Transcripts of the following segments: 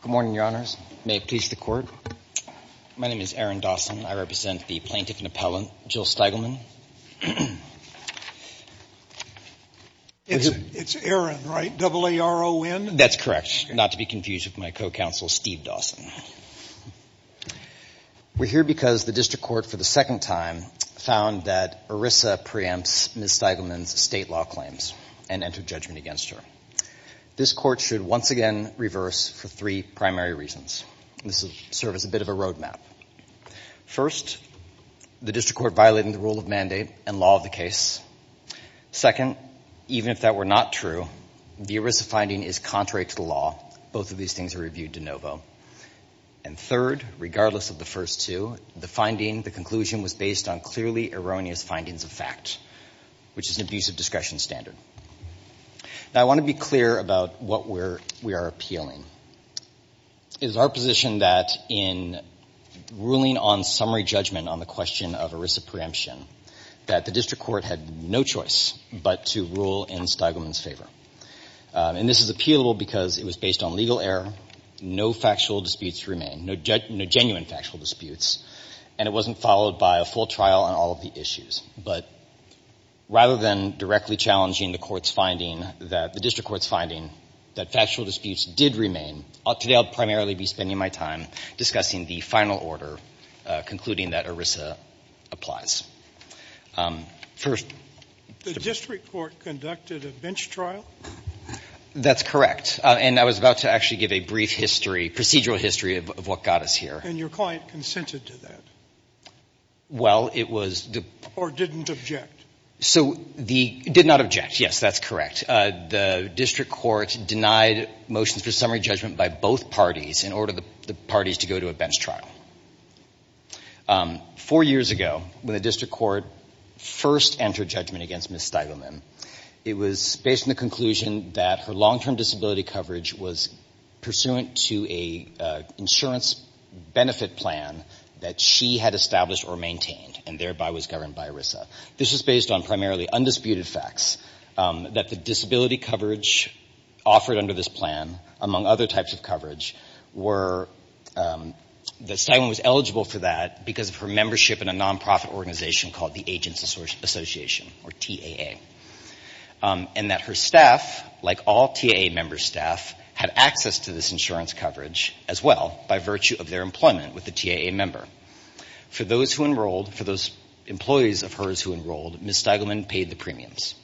Good morning, your honors. May it please the court. My name is Aaron Dawson. I represent the plaintiff and appellant, Jill Steigleman. It's Aaron, right? Double A-R-O-N? That's correct, not to be confused with my co-counsel, Steve Dawson. We're here because the district court for the second time found that ERISA preempts Ms. Steigleman's state law claims and entered judgment against her. This court should once again reverse for three primary reasons. This will serve as a bit of a road map. First, the district court violating the rule of mandate and law of the case. Second, even if that were not true, the ERISA finding is contrary to the law. Both of these things are reviewed de novo. And third, regardless of the first two, the finding, the conclusion, was based on clearly erroneous findings of fact, which is an abuse of discretion standard. Now I want to be clear about what we are appealing. It is our position that in ruling on summary judgment on the question of ERISA preemption, that the district court had no choice but to rule in Steigleman's favor. And this is appealable because it was based on legal error, no factual disputes remain, no genuine factual disputes, and it wasn't followed by a full trial on all of the issues. But rather than directly challenging the court's finding that the district court's finding that factual disputes did remain, today I'll primarily be spending my time discussing the final order concluding that ERISA applies. First the district court conducted a bench trial? That's correct. And I was about to actually give a brief history, procedural history of what got us here. And your client consented to that? Well, it was the... Or didn't object? So the, did not object, yes, that's correct. The district court denied motions for summary judgment by both parties in order for the parties to go to a bench trial. Four years ago, when the district court first entered judgment against Ms. Steigelman, it was based on the conclusion that her long-term disability coverage was pursuant to a insurance benefit plan that she had established or maintained, and thereby was governed by ERISA. This was based on primarily undisputed facts that the disability coverage offered under this plan, among other types of coverage, were, that Steigelman was eligible for that because of her membership in a non-profit organization called the Agents Association, or TAA. And that her staff, like all TAA member staff, had access to this insurance coverage as well by virtue of their employment with the TAA member. For those who enrolled, for those employees of hers who enrolled, Ms. Steigelman paid the premiums.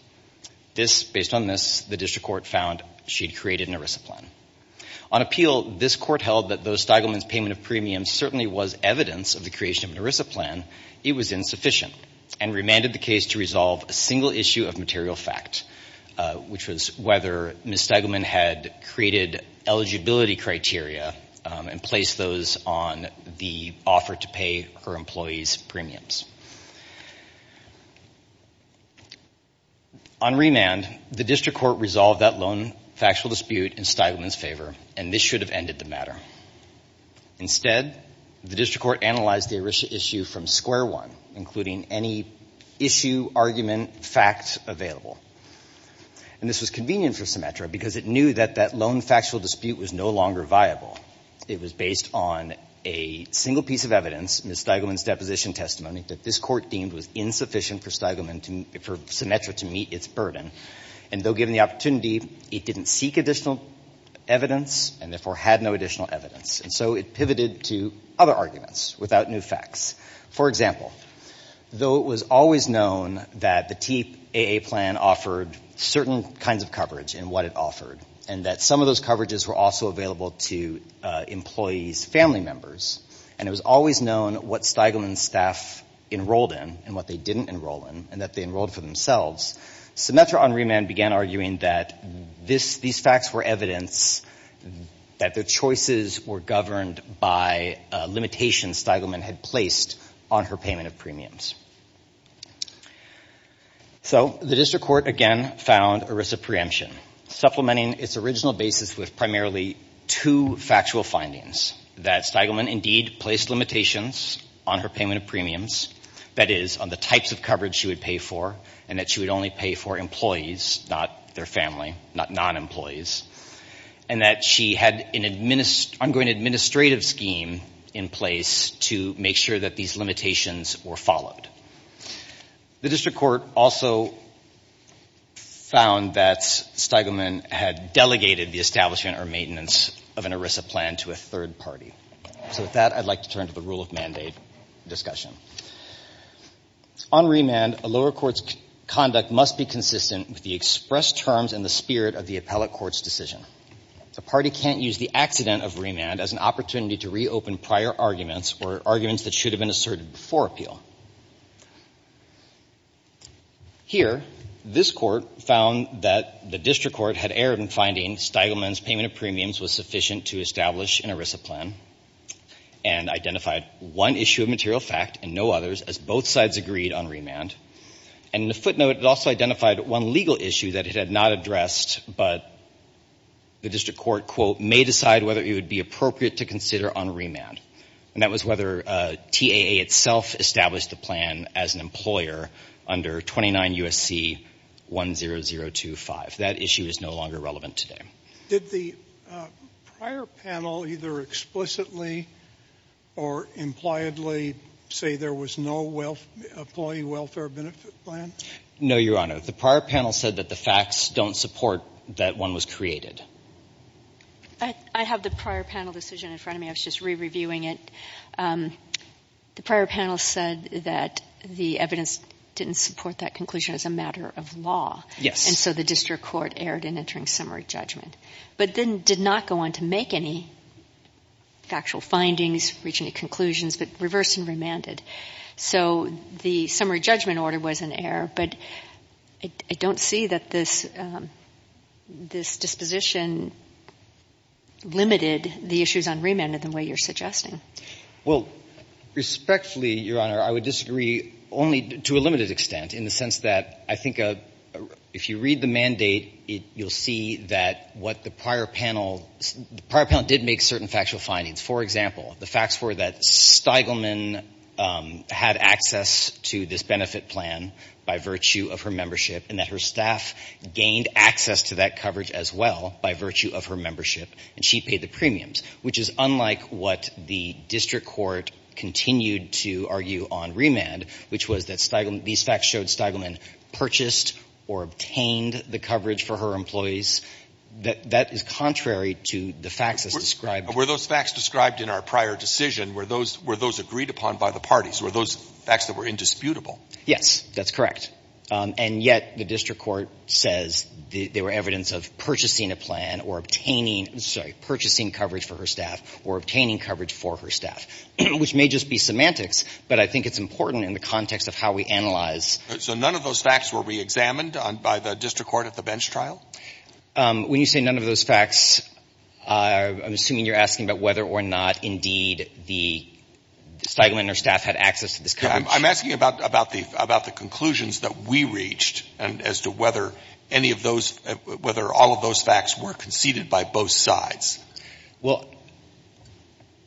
This, based on this, the district court found she'd created an ERISA plan. On appeal, this court held that though Steigelman's payment of premiums certainly was evidence of the creation of an ERISA plan, it was insufficient, and remanded the case to resolve a single issue of material fact, which was whether Ms. Steigelman had created eligibility criteria and placed those on the offer to pay her employees premiums. On remand, the district court resolved that lone factual dispute in Steigelman's favor, and this should have ended the matter. Instead, the district court analyzed the ERISA issue from square one, including any issue, argument, fact available. And this was convenient for Symetra because it knew that that lone factual dispute was no longer viable. It was based on a single piece of evidence, Ms. Steigelman's deposition testimony, that this court deemed was insufficient for Symetra to meet its burden. And though given the opportunity, it didn't seek additional evidence, and therefore had no additional evidence. And so it pivoted to other arguments without new facts. For example, though it was always known that the TAA plan offered certain kinds of coverage in what it offered, and that some of those coverages were also available to employees' family members, and it was always known what Steigelman's staff enrolled in and what they didn't enroll in, and that they enrolled for themselves, Symetra on remand began arguing that these facts were evidence that their choices were governed by limitations Steigelman had placed on her payment of premiums. So the district court again found ERISA preemption, supplementing its original basis with primarily two factual findings. That Steigelman indeed placed limitations on her payment of premiums, that is, on the types of coverage she would pay for, and that she would only pay for employees, not their family, not non-employees. And that she had an ongoing administrative scheme in place to make sure that these limitations were followed. The district court also found that Steigelman had delegated the establishment or maintenance of an ERISA plan to a third party. So with that, I'd like to turn to the rule of mandate discussion. On remand, a lower court's conduct must be consistent with the expressed terms and the spirit of the appellate court's decision. The party can't use the accident of remand as an opportunity to reopen prior arguments or arguments that should have been asserted before appeal. Here, this court found that the district court had erred in finding Steigelman's payment of premiums was sufficient to establish an ERISA plan, and identified one issue of material fact and no others, as both sides agreed on remand. And in the footnote, it also identified one legal issue that it had not addressed, but the district court, quote, may decide whether it would be appropriate to consider on remand. And that was whether TAA itself established the plan as an employer under 29 U.S.C. 10025. That issue is no longer relevant today. Did the prior panel either explicitly or impliedly say there was no employee welfare benefit plan? No, Your Honor. The prior panel said that the facts don't support that one was created. I have the prior panel decision in front of me. I was just re-reviewing it. The prior panel said that the evidence didn't support that conclusion as a matter of law. Yes. And so the district court erred in entering summary judgment, but then did not go on to make any factual findings, reach any conclusions, but reversed and remanded. So the summary judgment order was in error, but I don't see that this disposition limited the issues on remand in the way you're suggesting. Well, respectfully, Your Honor, I would disagree only to a limited extent in the sense that I think if you read the mandate, you'll see that what the prior panel, the prior panel did make certain factual findings. For example, the facts were that Steigelman had access to this benefit plan by virtue of her membership and that her staff gained access to that coverage as well by virtue of her membership, and she paid the premiums, which is unlike what the district court continued to argue on remand, which was that these facts showed Steigelman purchased or obtained the coverage for her employees. That is contrary to the facts as described. Were those facts described in our prior decision, were those agreed upon by the parties, were those facts that were indisputable? Yes, that's correct. And yet the district court says they were evidence of purchasing a plan or obtaining sorry, purchasing coverage for her staff or obtaining coverage for her staff, which may just be semantics, but I think it's important in the context of how we analyze. So none of those facts were reexamined by the district court at the I'm asking about whether or not, indeed, the Steigelman or staff had access to this coverage. I'm asking about the conclusions that we reached as to whether any of those ‑‑ whether all of those facts were conceded by both sides. Well,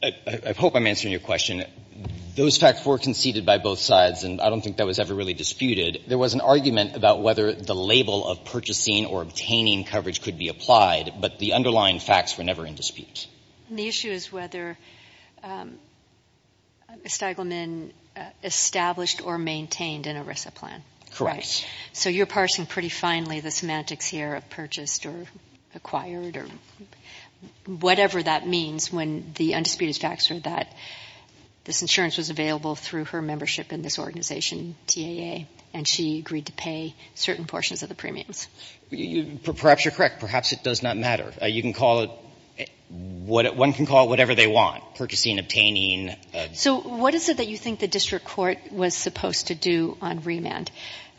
I hope I'm answering your question. Those facts were conceded by both sides, and I don't think that was ever really disputed. There was an argument about whether the label of purchasing or obtaining coverage could be applied, but the underlying facts were never in dispute. The issue is whether Steigelman established or maintained an ERISA plan. Correct. So you're parsing pretty finely the semantics here of purchased or acquired or whatever that means when the undisputed facts are that this insurance was available through her membership in this organization, TAA, and she agreed to pay certain portions of the premiums. Perhaps you're correct. Perhaps it does not matter. You can call it ‑‑ one can call it whatever they want, purchasing, obtaining. So what is it that you think the district court was supposed to do on remand?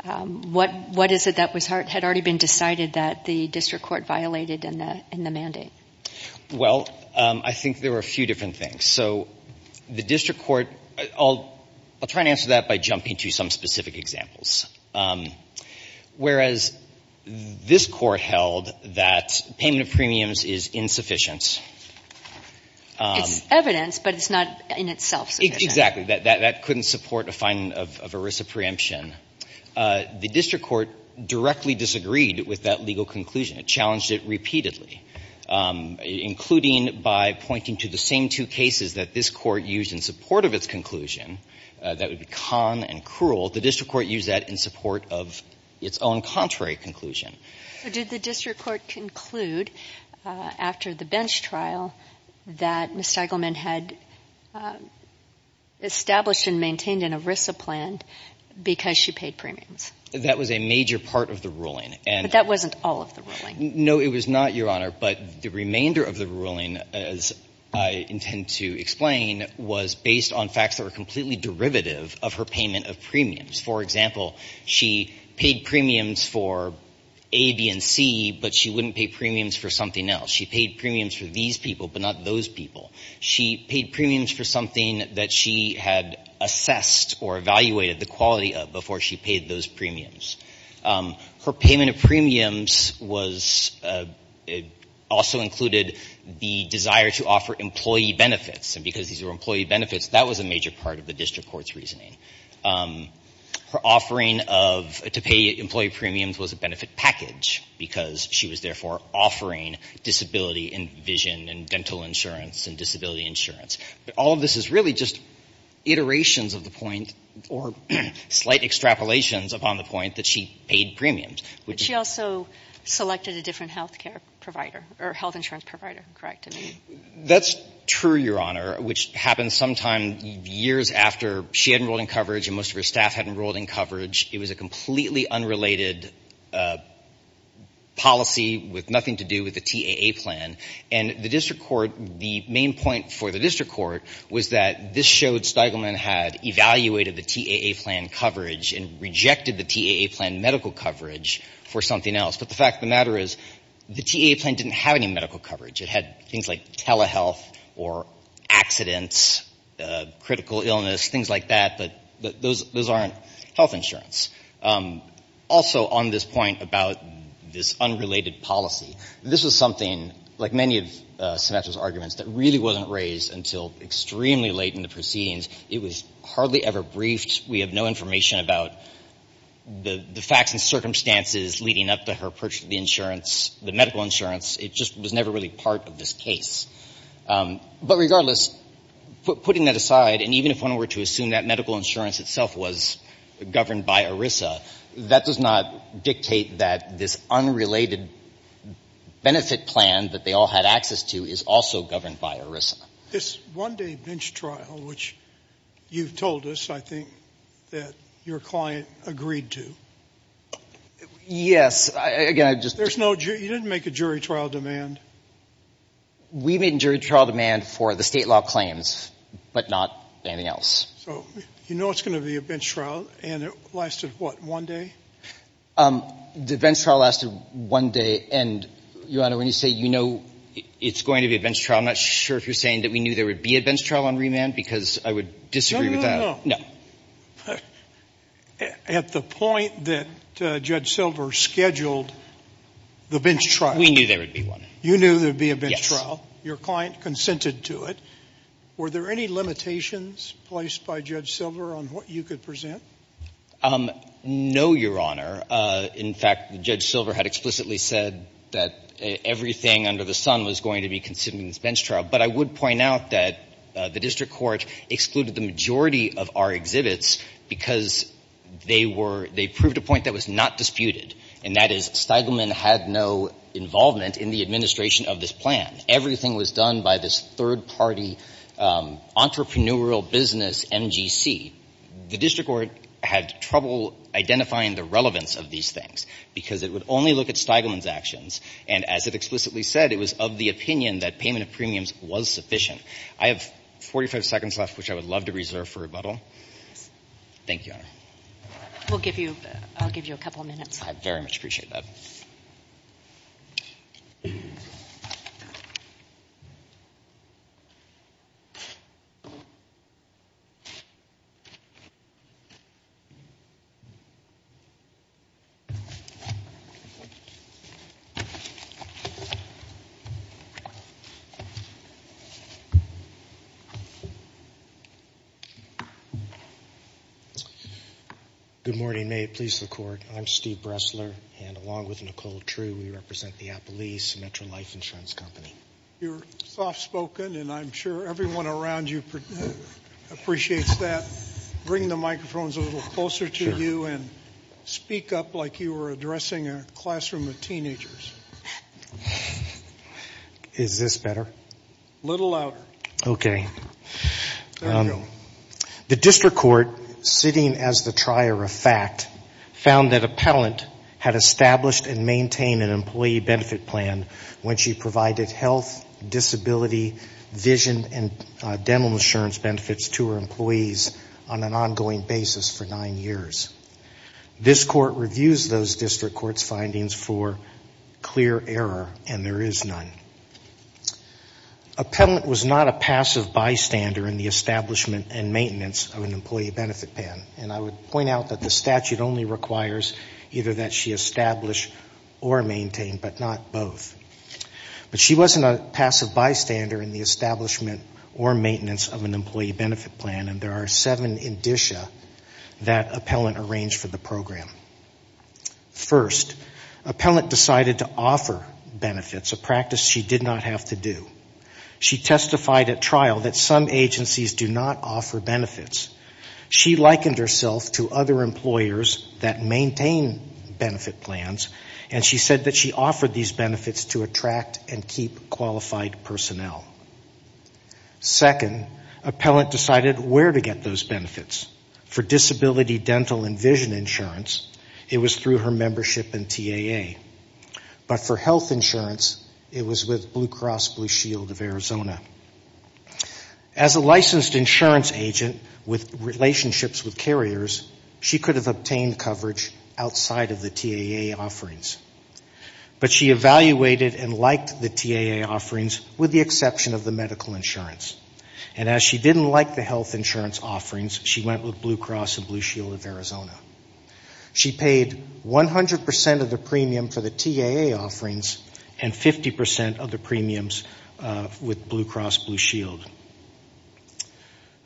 What is it that had already been decided that the district court violated in the mandate? Well, I think there were a few different things. So the district court ‑‑ I'll try to answer that by jumping to some specific examples. Whereas this Court held that payment of premiums is insufficient. It's evidence, but it's not in itself sufficient. Exactly. That couldn't support a finding of ERISA preemption. The district court directly disagreed with that legal conclusion. It challenged it repeatedly, including by pointing to the same two cases that this Court used in support of its conclusion that would be con and cruel. The district court used that in support of its own contrary conclusion. So did the district court conclude after the bench trial that Ms. Stagelman had established and maintained an ERISA plan because she paid premiums? That was a major part of the ruling. But that wasn't all of the ruling. No, it was not, Your Honor. But the remainder of the ruling, as I intend to explain, was based on facts that were completely derivative of her payment of premiums. For example, she paid premiums for A, B, and C, but she wouldn't pay premiums for something else. She paid premiums for these people, but not those people. She paid premiums for something that she had assessed or evaluated the quality of before she paid those premiums. Her payment of premiums was also included the desire to offer employee benefits. And because these were employee benefits, that was a major part of the district court's reasoning. Her offering to pay employee premiums was a benefit package because she was therefore offering disability and vision and dental insurance and disability insurance. But all of this is really just iterations of the point or slight extrapolations upon the point that she paid premiums. But she also selected a different health care provider or health insurance provider, correct? That's true, Your Honor, which happened sometime years after she enrolled in coverage and most of her staff had enrolled in coverage. It was a completely unrelated policy with nothing to do with the TAA plan. And the district court, the main point for the district court was that this showed Steigelman had evaluated the TAA plan coverage and rejected the TAA plan medical coverage for something else. But the fact of the matter is the TAA plan didn't have any medical coverage. It had things like telehealth or accidents, critical illness, things like that. But those aren't health insurance. Also on this point about this unrelated policy, this was something, like many of Symetra's arguments, that really wasn't raised until extremely late in the proceedings. It was hardly ever briefed. We have no information about the facts and circumstances leading up to her purchase of the insurance, the medical insurance. It just was never really part of this case. But regardless, putting that aside, and even if one were to assume that medical insurance itself was governed by ERISA, that does not dictate that this unrelated benefit plan that they all had is also governed by ERISA. This one-day bench trial, which you've told us, I think, that your client agreed to. Yes. Again, I just — There's no — you didn't make a jury trial demand? We made a jury trial demand for the state law claims, but not anything else. So you know it's going to be a bench trial, and it lasted, what, one day? The bench trial lasted one day, and, Your Honor, when you say you know it's going to be a bench trial, I'm not sure if you're saying that we knew there would be a bench trial on remand, because I would disagree with that. No, no, no. No. At the point that Judge Silver scheduled the bench trial. We knew there would be one. You knew there would be a bench trial. Yes. Your client consented to it. Were there any limitations placed by Judge Silver on what you could present? No, Your Honor. In fact, Judge Silver had explicitly said that everything under the sun was going to be considered in this bench trial. But I would point out that the district court excluded the majority of our exhibits because they were — they proved a point that was not disputed, and that is Steigelman had no involvement in the administration of this plan. Everything was done by this third-party entrepreneurial business, MGC. The district court had trouble identifying the relevance of these things, because it would only look at Steigelman's actions, and as it explicitly said, it was of the opinion that payment of premiums was sufficient. I have 45 seconds left, which I would love to reserve for rebuttal. Thank you, Your Honor. We'll give you — I'll give you a couple minutes. I very much appreciate that. Thank you, Your Honor. Good morning. May it please the Court, I'm Steve Bressler, and along with Nicole True, we represent the Apple East Metro Life Insurance Company. You're soft-spoken, and I'm sure everyone around you appreciates that. Bring the microphones a little closer to you and speak up like you were addressing a classroom of teenagers. Is this better? A little louder. Okay. The district court, sitting as the trier of fact, found that a palant had established and maintained an employee benefit plan when she provided health, disability, vision, and dental insurance benefits to her employees on an ongoing basis for nine years. This Court reviews those district court's findings for clear error, and there is none. A palant was not a passive bystander in the establishment and maintenance of an employee benefit plan, and I would point out that the statute only requires either that she establish or maintain, but not both. But she wasn't a passive bystander in the establishment or maintenance of an employee benefit plan, and there are seven indicia that a palant arranged for the program. First, a palant decided to offer benefits, a practice she did not have to do. She testified at trial that some agencies do not offer benefits. She likened herself to other employers that maintain benefit plans, and she said that she offered these benefits to attract and keep qualified personnel. Second, a palant decided where to get those benefits. For disability, dental, and vision insurance, it was through her membership in TAA. But for health insurance, it was with Blue Cross Blue Shield of Arizona. As a licensed insurance agent with relationships with carriers, she could have obtained coverage outside of the TAA offerings. But she evaluated and liked the TAA offerings, with the exception of the medical insurance. And as she didn't like the health insurance offerings, she went with Blue Cross and Blue Shield of Arizona. She paid 100% of the premium for the TAA offerings and 50% of the premiums with Blue Cross Blue Shield.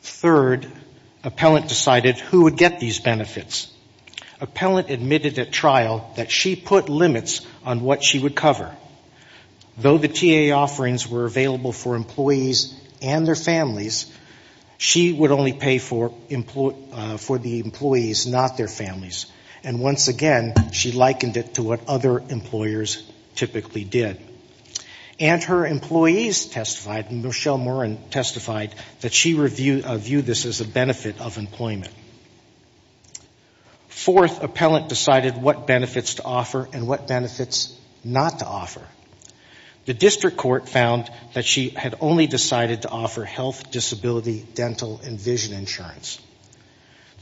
Third, a palant decided who would get these benefits. A palant admitted at trial that she put limits on what she would cover. Though the TAA offerings were available for employees and their families, she would only pay for the employees, not their families. And once again, she likened it to what other employers typically did. And her employees testified, Michelle Morin testified, that she viewed this as a benefit of employment. Fourth, a palant decided what benefits to offer and what benefits not to offer. The district court found that she had only decided to offer health, disability, dental, and vision insurance.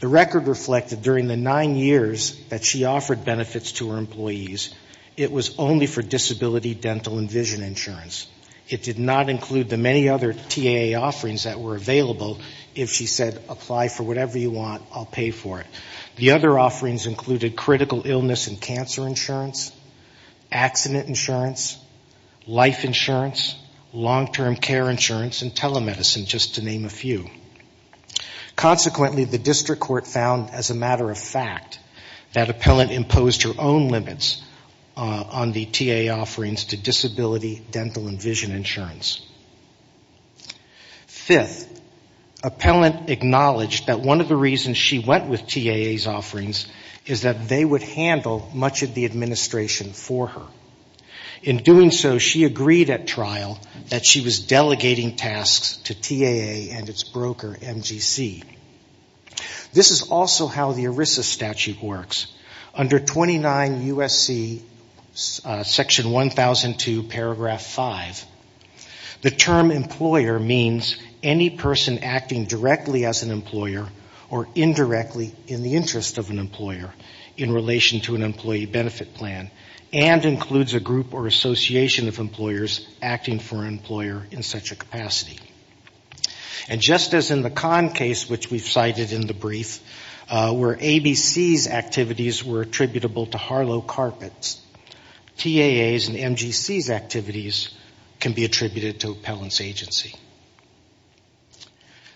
The record reflected during the nine years that she offered benefits to her employees, it was only for disability, dental, and vision insurance. It did not include the many other TAA offerings that were available if she said, apply for whatever you want, I'll pay for it. The other offerings included critical illness and cancer insurance, accident insurance, life insurance, long-term care insurance, and telemedicine, just to name a few. Consequently, the district court found as a matter of fact that a palant imposed her own limits on the TAA offerings to disability, dental, and vision insurance. Fifth, a palant acknowledged that one of the reasons she went with TAA's offerings is that they would handle much of the administration for her. In doing so, she agreed at trial that she was delegating tasks to TAA and its broker, MGC. This is also how the ERISA statute works. Under 29 USC section 1002 paragraph 5, the term employer means any person acting directly as an employer or indirectly in the interest of an employer in relation to an employee benefit plan, and includes a group or association of employers acting for an employer in such a capacity. And just as in the Conn case, which we've cited in the brief, where ABC's activities were attributable to Harlow Carpets, TAA's and MGC's activities can be attributed to a palant's agency.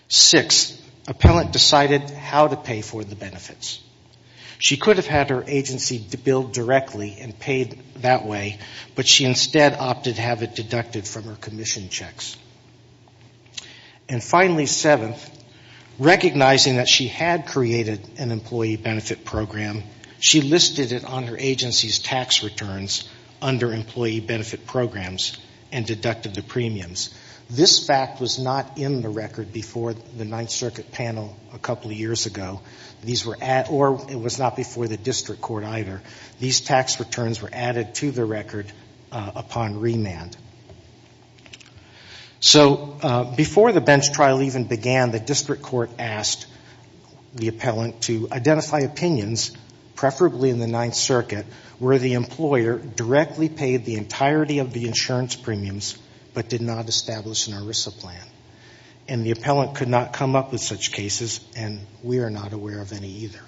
Sixth, a palant decided how to pay for the benefits. She could have had her agency billed directly and paid that way, but she instead opted to have it deducted from her commission checks. And finally, seventh, recognizing that she had created an employee benefit program, she listed it on her agency's tax returns under employee benefit programs and deducted the premiums. This fact was not in the record before the Ninth Circuit panel a couple of years ago, or it was not before the district court either. These tax returns were added to the record upon remand. So, before the bench trial even began, the district court asked the palant to identify opinions, preferably in the Ninth Circuit, where the employer directly paid the entirety of the insurance premiums, but did not establish an ERISA plan. And the palant could not come up with such cases, and we are not aware of any either.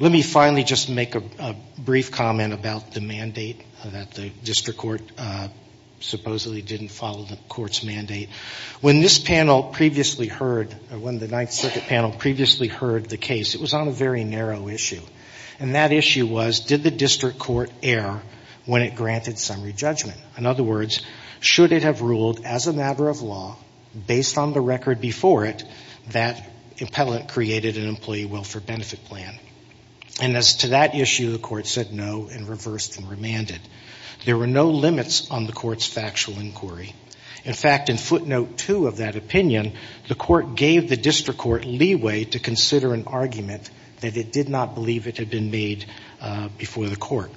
Let me finally just make a brief comment about the mandate that the district court supposedly didn't follow the court's mandate. When this panel previously heard, or when the Ninth Circuit panel previously heard the case, it was on a very narrow issue. And that issue was, did the district court err when it granted summary judgment? In other words, should it have ruled as a matter of law, based on the record before it, that the palant created an employee welfare benefit plan? And as to that issue, the court said no and reversed and remanded. There were no limits on the court's factual inquiry. In fact, in footnote two of that opinion, the court gave the district court leeway to consider an argument that it did not believe it had been made before the court.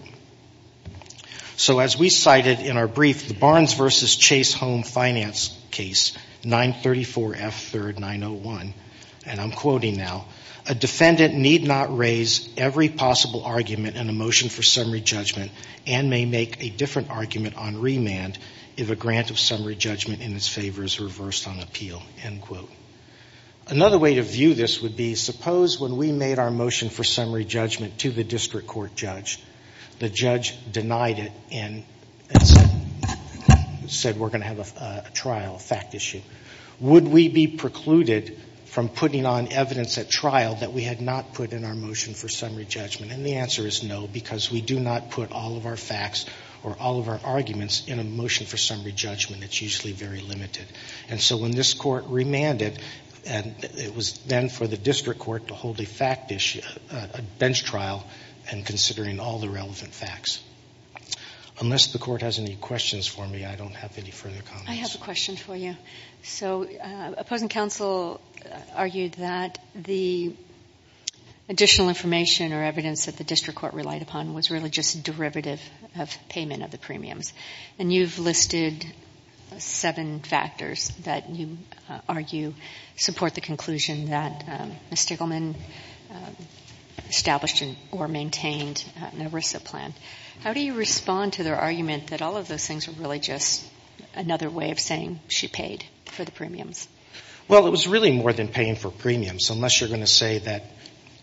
So, as we cited in our brief, the Barnes v. Chase Home Finance case, 934F3901, and I'm quoting now, a defendant need not raise every possible argument in a motion for summary judgment, but may make a different argument on remand if a grant of summary judgment in its favor is reversed on appeal, end quote. Another way to view this would be, suppose when we made our motion for summary judgment to the district court judge, the judge denied it and said we're going to have a trial, a fact issue. Would we be precluded from putting on evidence at trial that we had not put in our motion for summary judgment? And the answer is no, because we do not put all of our facts or all of our arguments in a motion for summary judgment. It's usually very limited. And so when this court remanded, it was then for the district court to hold a fact issue, a bench trial, and considering all the relevant facts. Unless the court has any questions for me, I don't have any further comments. I have a question for you. So opposing counsel argued that the additional information or evidence that the district court relied upon was really just a derivative of payment of the premiums. And you've listed seven factors that you argue support the conclusion that Ms. Stickleman established or maintained an ERISA plan. How do you respond to their argument that all of those things are really just another way of saying she paid for the premiums? Well, it was really more than paying for premiums, unless you're going to say that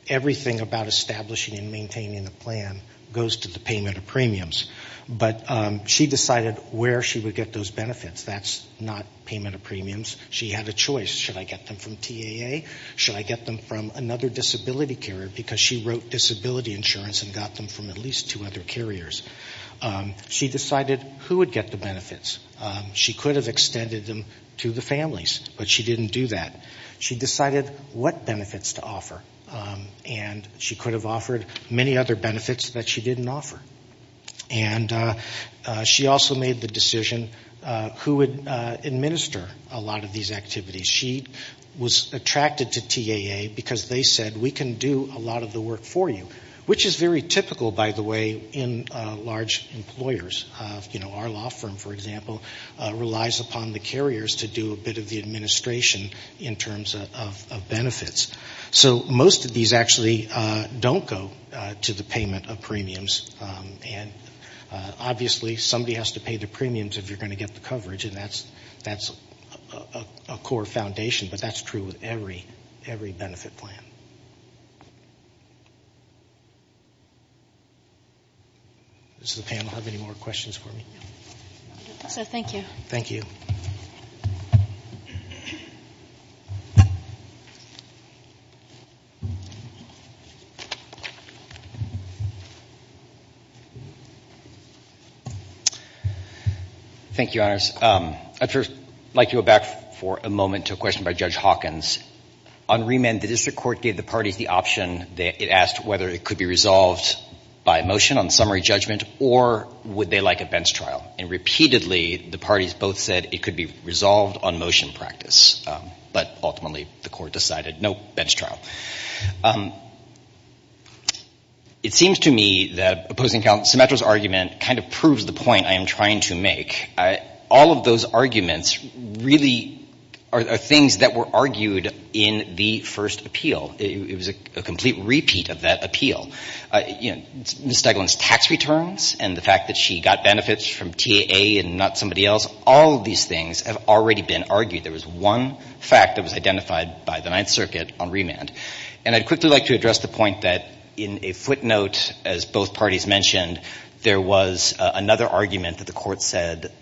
everything about establishing and maintaining a plan goes to the payment of premiums. But she decided where she would get those benefits. That's not payment of premiums. She had a choice. Should I get them from TAA? Should I get them from another disability carrier? Because she wrote disability insurance and got them from at least two other carriers. She decided who would get the benefits. She could have extended them to the families, but she didn't do that. She decided what benefits to offer. And she could have offered many other benefits that she didn't offer. And she also made the decision who would administer a lot of these activities. She was attracted to TAA because they said we can do a lot of the work for you, which is very typical, by the way, in large employers. Our law firm, for example, relies upon the carriers to do a bit of the administration in terms of benefits. So most of these actually don't go to the payment of premiums. And obviously, somebody has to pay the premiums if you're going to get the coverage. And that's a core foundation. But that's true with every benefit plan. Does the panel have any more questions for me? So thank you. Thank you. Thank you, Honors. I'd first like to go back for a moment to a question by Judge Hawkins. On remand, the district court gave the parties the option. It asked whether it could be resolved by motion on summary judgment, or would they like a bench trial? And repeatedly, the parties both said it could be resolved on motion practice. But ultimately, the court decided no bench trial. It seems to me that opposing counsel Symetra's argument kind of proves the point I am trying to make. All of those arguments really are things that were argued in the first appeal. It was a complete repeat of that appeal. Ms. Stiglitz's tax returns and the fact that she got benefits from TAA and not somebody else, all of these things have already been argued. There was one fact that was identified by the Ninth Circuit on remand. And I'd quickly like to address the point that in a footnote, as both parties mentioned, there was another argument that the court said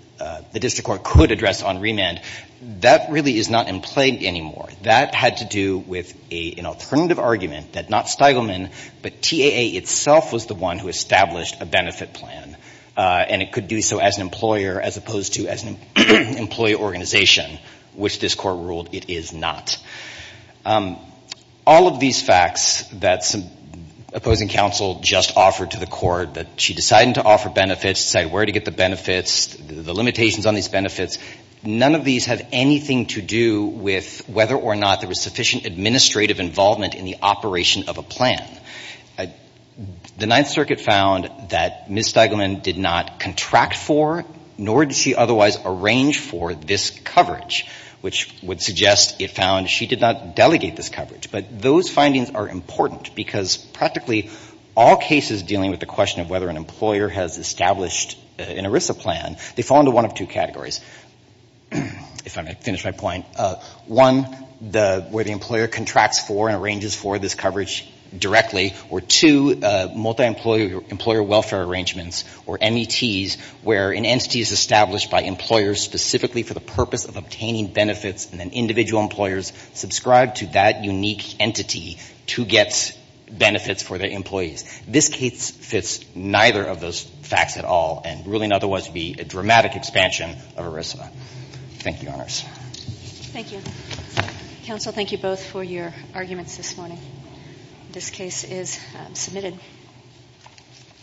the district court could address on remand. That really is not in play anymore. That had to do with an alternative argument that not Stiglitz, but TAA itself was the one who established a benefit plan. And it could do so as an employer as opposed to as an employee organization, which this court ruled it is not. All of these facts that opposing counsel just offered to the court, that she decided to offer benefits, decide where to get the benefits, the limitations on these benefits, none of these have anything to do with whether or not there was sufficient administrative involvement in the operation of a plan. The Ninth Circuit found that Ms. Stiglitz did not contract for, nor did she otherwise arrange for this coverage, which would suggest it found she did not delegate this coverage. But those findings are important because practically all cases dealing with the question of whether an employer has established an ERISA plan, they fall into one of two categories. If I may finish my point. One, where the employer contracts for and arranges for this coverage directly. Or two, multi-employer welfare arrangements, or METs, where an entity is established by employers specifically for the purpose of obtaining benefits and then individual employers subscribe to that unique entity to get benefits for their employees. This case fits neither of those facts at all, and ruling otherwise would be a dramatic expansion of ERISA. Thank you, Your Honors. Thank you. Counsel, thank you both for your arguments this morning. This case is submitted.